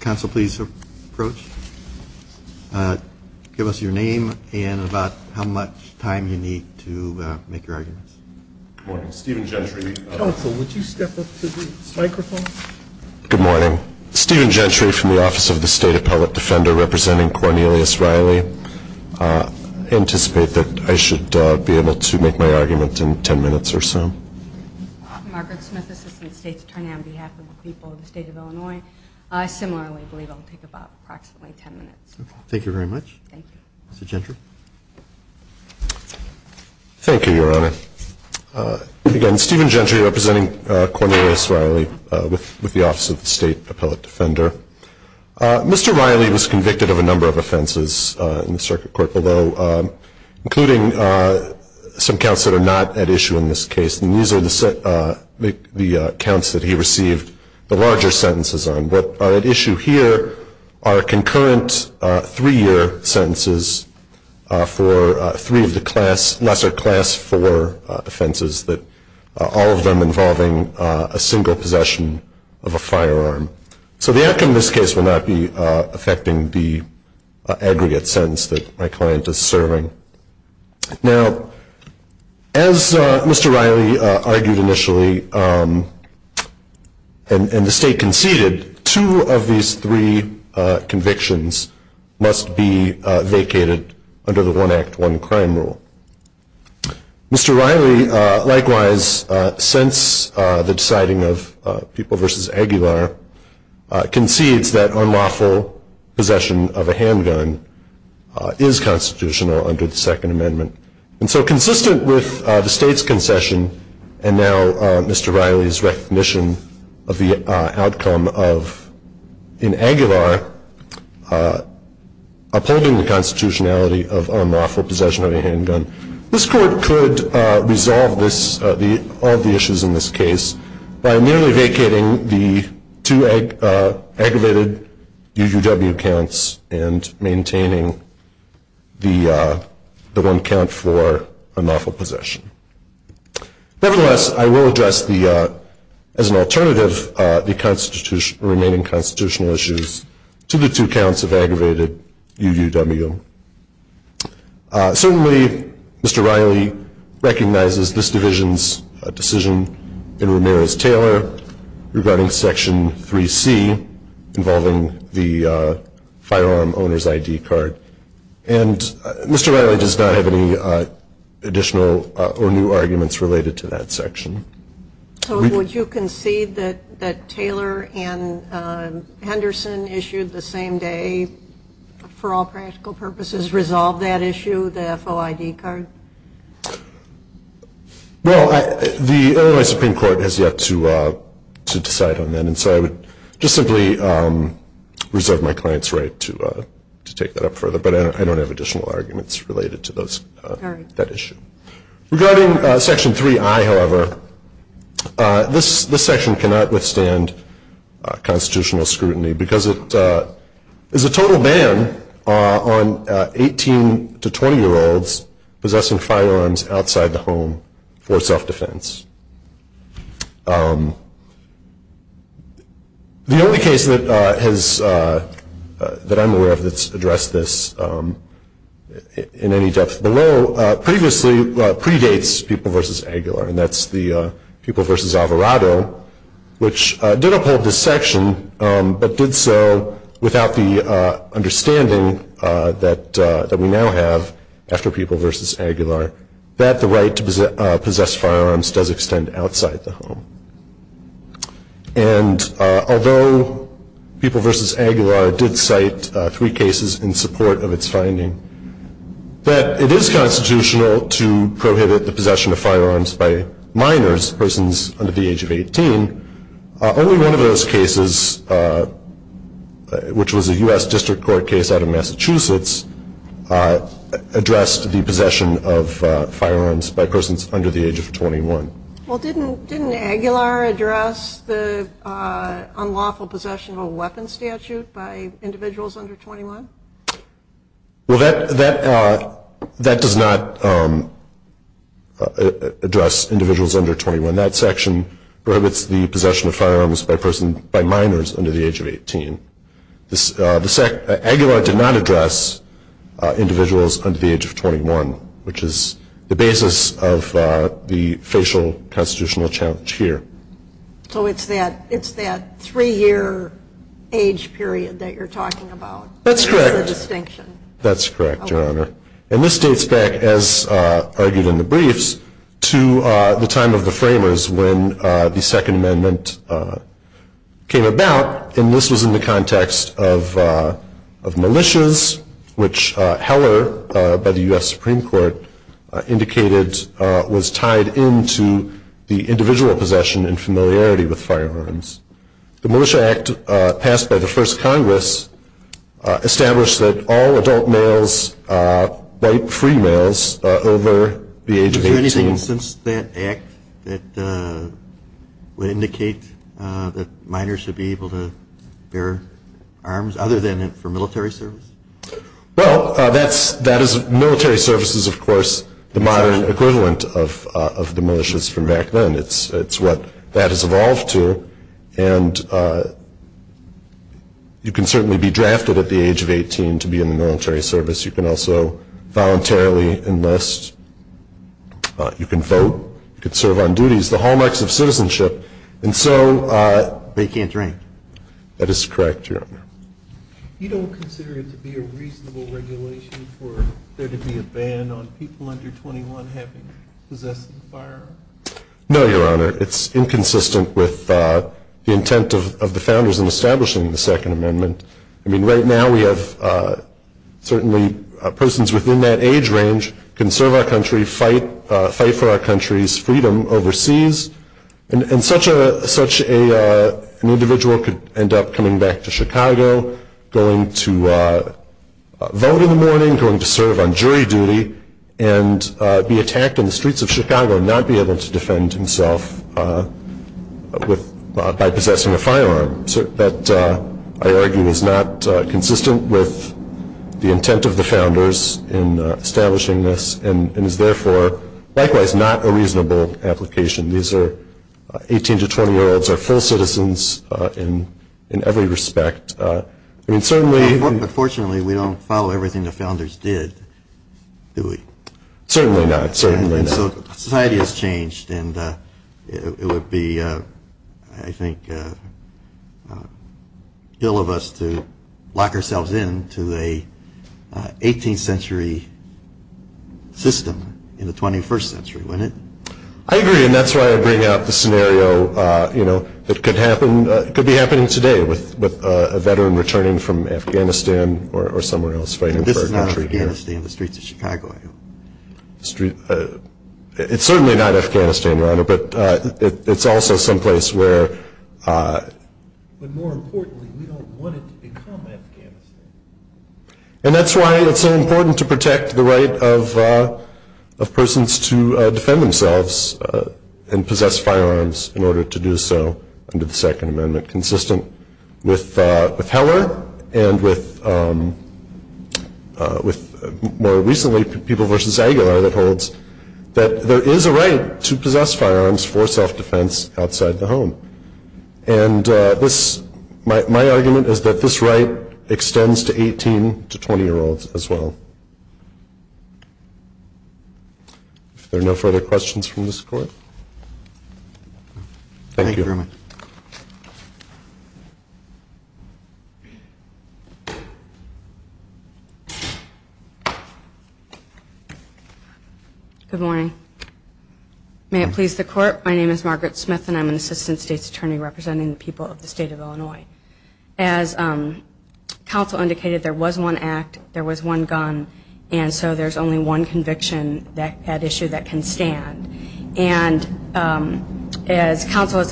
Council, please approach. Give us your name and about how much time you need to make your arguments. Good morning. Stephen Gentry. Council, would you step up to the microphone? Good morning. Stephen Gentry from the Office of the State Appellate Defender representing Cornelius Riley. I anticipate that I should be able to make my argument in 10 minutes or so. Margaret Smith, Assistant State's Attorney on behalf of the people of the state of Illinois. I similarly believe I'll take approximately 10 minutes. Thank you very much. Thank you. Mr. Gentry. Thank you, Your Honor. Again, Stephen Gentry representing Cornelius Riley with the Office of the State Appellate Defender. Mr. Riley was convicted of a number of offenses in the circuit court below, including some counts that are not at issue in this case. And these are the counts that he received the larger sentences on. But at issue here are concurrent three-year sentences for three of the lesser Class IV offenses, all of them involving a single possession of a firearm. So the outcome of this case will not be affecting the aggregate sentence that my client is serving. Now, as Mr. Riley argued initially, and the state conceded, two of these three convictions must be vacated under the One Act, One Crime rule. Mr. Riley likewise, since the deciding of People v. Aguilar, concedes that unlawful possession of a handgun is constitutional under the Second Amendment. And so consistent with the state's concession and now Mr. Riley's recognition of the outcome of, in Aguilar, upholding the constitutionality of unlawful possession of a handgun, this court could resolve all the issues in this case by merely vacating the two aggravated UUW counts and maintaining the one count for unlawful possession. Nevertheless, I will address the, as an alternative, the remaining constitutional issues to the two counts of aggravated UUW. Certainly, Mr. Riley recognizes this division's decision in Ramirez-Taylor regarding Section 3C involving the firearm owner's ID card. And Mr. Riley does not have any additional or new arguments related to that section. So would you concede that Taylor and Henderson issued the same day, for all practical purposes, resolved that issue, the FOID card? Well, the Illinois Supreme Court has yet to decide on that, and so I would just simply reserve my client's right to take that up further. But I don't have additional arguments related to that issue. Regarding Section 3I, however, this section cannot withstand constitutional scrutiny because it is a total ban on 18- to 20-year-olds possessing firearms outside the home for self-defense. The only case that I'm aware of that's addressed this in any depth below previously predates Pupil v. Aguilar, and that's the Pupil v. Alvarado, which did uphold this section but did so without the understanding that we now have after Pupil v. Aguilar that the right to possess firearms does extend outside the home. And although Pupil v. Aguilar did cite three cases in support of its finding, that it is constitutional to prohibit the possession of firearms by minors, persons under the age of 18, only one of those cases, which was a U.S. District Court case out of Massachusetts, addressed the possession of firearms by persons under the age of 21. Well, didn't Aguilar address the unlawful possession of a weapon statute by individuals under 21? Well, that does not address individuals under 21. That section prohibits the possession of firearms by minors under the age of 18. Aguilar did not address individuals under the age of 21, which is the basis of the facial constitutional challenge here. So it's that three-year age period that you're talking about? That's correct. That's the distinction. That's correct, Your Honor. And this dates back, as argued in the briefs, to the time of the framers when the Second Amendment came about. And this was in the context of militias, which Heller, by the U.S. Supreme Court, indicated was tied into the individual possession and familiarity with firearms. The Militia Act passed by the first Congress established that all adult males bite free males over the age of 18. Is there anything since that act that would indicate that minors should be able to bear arms, other than for military service? Well, military service is, of course, the modern equivalent of the militias from back then. It's what that has evolved to. And you can certainly be drafted at the age of 18 to be in the military service. You can also voluntarily enlist. You can vote. You can serve on duties, the hallmarks of citizenship. And so they can't drink. That is correct, Your Honor. You don't consider it to be a reasonable regulation for there to be a ban on people under 21 having possessed a firearm? No, Your Honor. It's inconsistent with the intent of the founders in establishing the Second Amendment. I mean, right now we have certainly persons within that age range can serve our country, fight for our country's freedom overseas. And such an individual could end up coming back to Chicago, going to vote in the morning, going to serve on jury duty, and be attacked in the streets of Chicago and not be able to defend himself by possessing a firearm. That, I argue, is not consistent with the intent of the founders in establishing this and is therefore likewise not a reasonable application. These are 18- to 20-year-olds are full citizens in every respect. But fortunately, we don't follow everything the founders did, do we? Certainly not. And so society has changed, and it would be, I think, ill of us to lock ourselves in to an 18th century system in the 21st century, wouldn't it? I agree, and that's why I bring up the scenario that could be happening today with a veteran returning from Afghanistan or somewhere else fighting for our country. But this is not Afghanistan, the streets of Chicago, I hope. It's certainly not Afghanistan, Your Honor, but it's also someplace where... But more importantly, we don't want it to become Afghanistan. And that's why it's so important to protect the right of persons to defend themselves and possess firearms in order to do so under the Second Amendment, consistent with Heller and with more recently People v. Aguilar that holds that there is a right to possess firearms for self-defense outside the home. And my argument is that this right extends to 18- to 20-year-olds as well. If there are no further questions from this Court... Thank you. Thank you very much. Good morning. May it please the Court, my name is Margaret Smith, and I'm an Assistant State's Attorney representing the people of the State of Illinois. As counsel indicated, there was one act, there was one gun, and so there's only one conviction at issue that can stand. And as counsel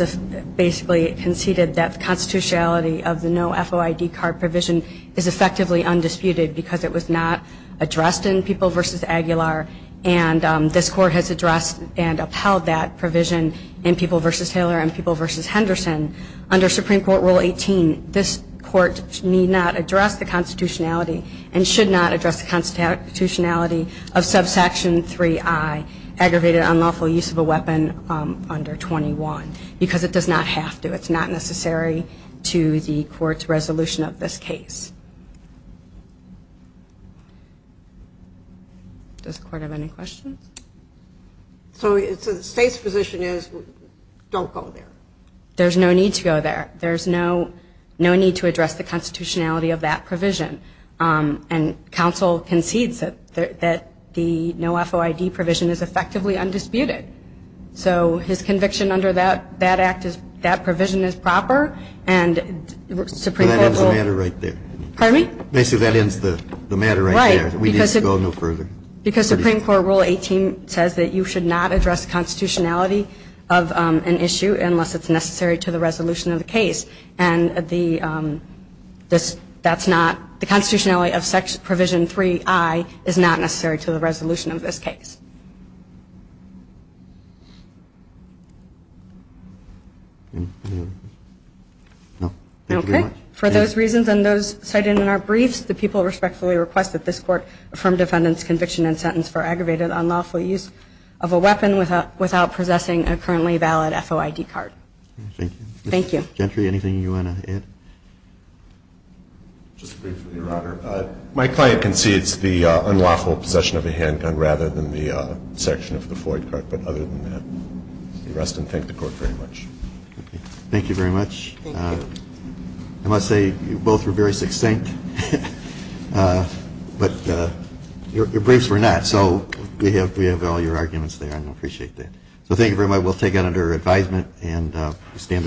basically conceded that the constitutionality of the no FOID card provision is effectively undisputed because it was not addressed in People v. Aguilar, and this Court has addressed and upheld that provision in People v. Heller and People v. Henderson. Under Supreme Court Rule 18, this Court need not address the constitutionality and should not address the constitutionality of subsection 3i, aggravated unlawful use of a weapon under 21, because it does not have to. It's not necessary to the Court's resolution of this case. Does the Court have any questions? So the State's position is don't go there. There's no need to go there. There's no need to address the constitutionality of that provision. And counsel concedes that the no FOID provision is effectively undisputed. So his conviction under that act is that provision is proper, and Supreme Court will ---- That ends the matter right there. Pardon me? Basically that ends the matter right there. Right. We need to go no further. Because Supreme Court Rule 18 says that you should not address constitutionality of an issue unless it's necessary to the resolution of the case. And the ---- that's not ---- the constitutionality of section provision 3i is not necessary to the resolution of this case. Okay. For those reasons and those cited in our briefs, the people respectfully request that this Court affirm defendant's conviction and sentence for aggravated unlawful use of a weapon without possessing a currently valid FOID card. Thank you. Thank you. Mr. Gentry, anything you want to add? Just briefly, Your Honor. My client concedes the unlawful possession of a handgun rather than the section of the FOID card. But other than that, the rest, and thank the Court very much. Thank you very much. Thank you. I must say you both were very succinct. But your briefs were not. And so we have all your arguments there, and I appreciate that. So thank you very much. We'll take it under advisement and stand adjourned.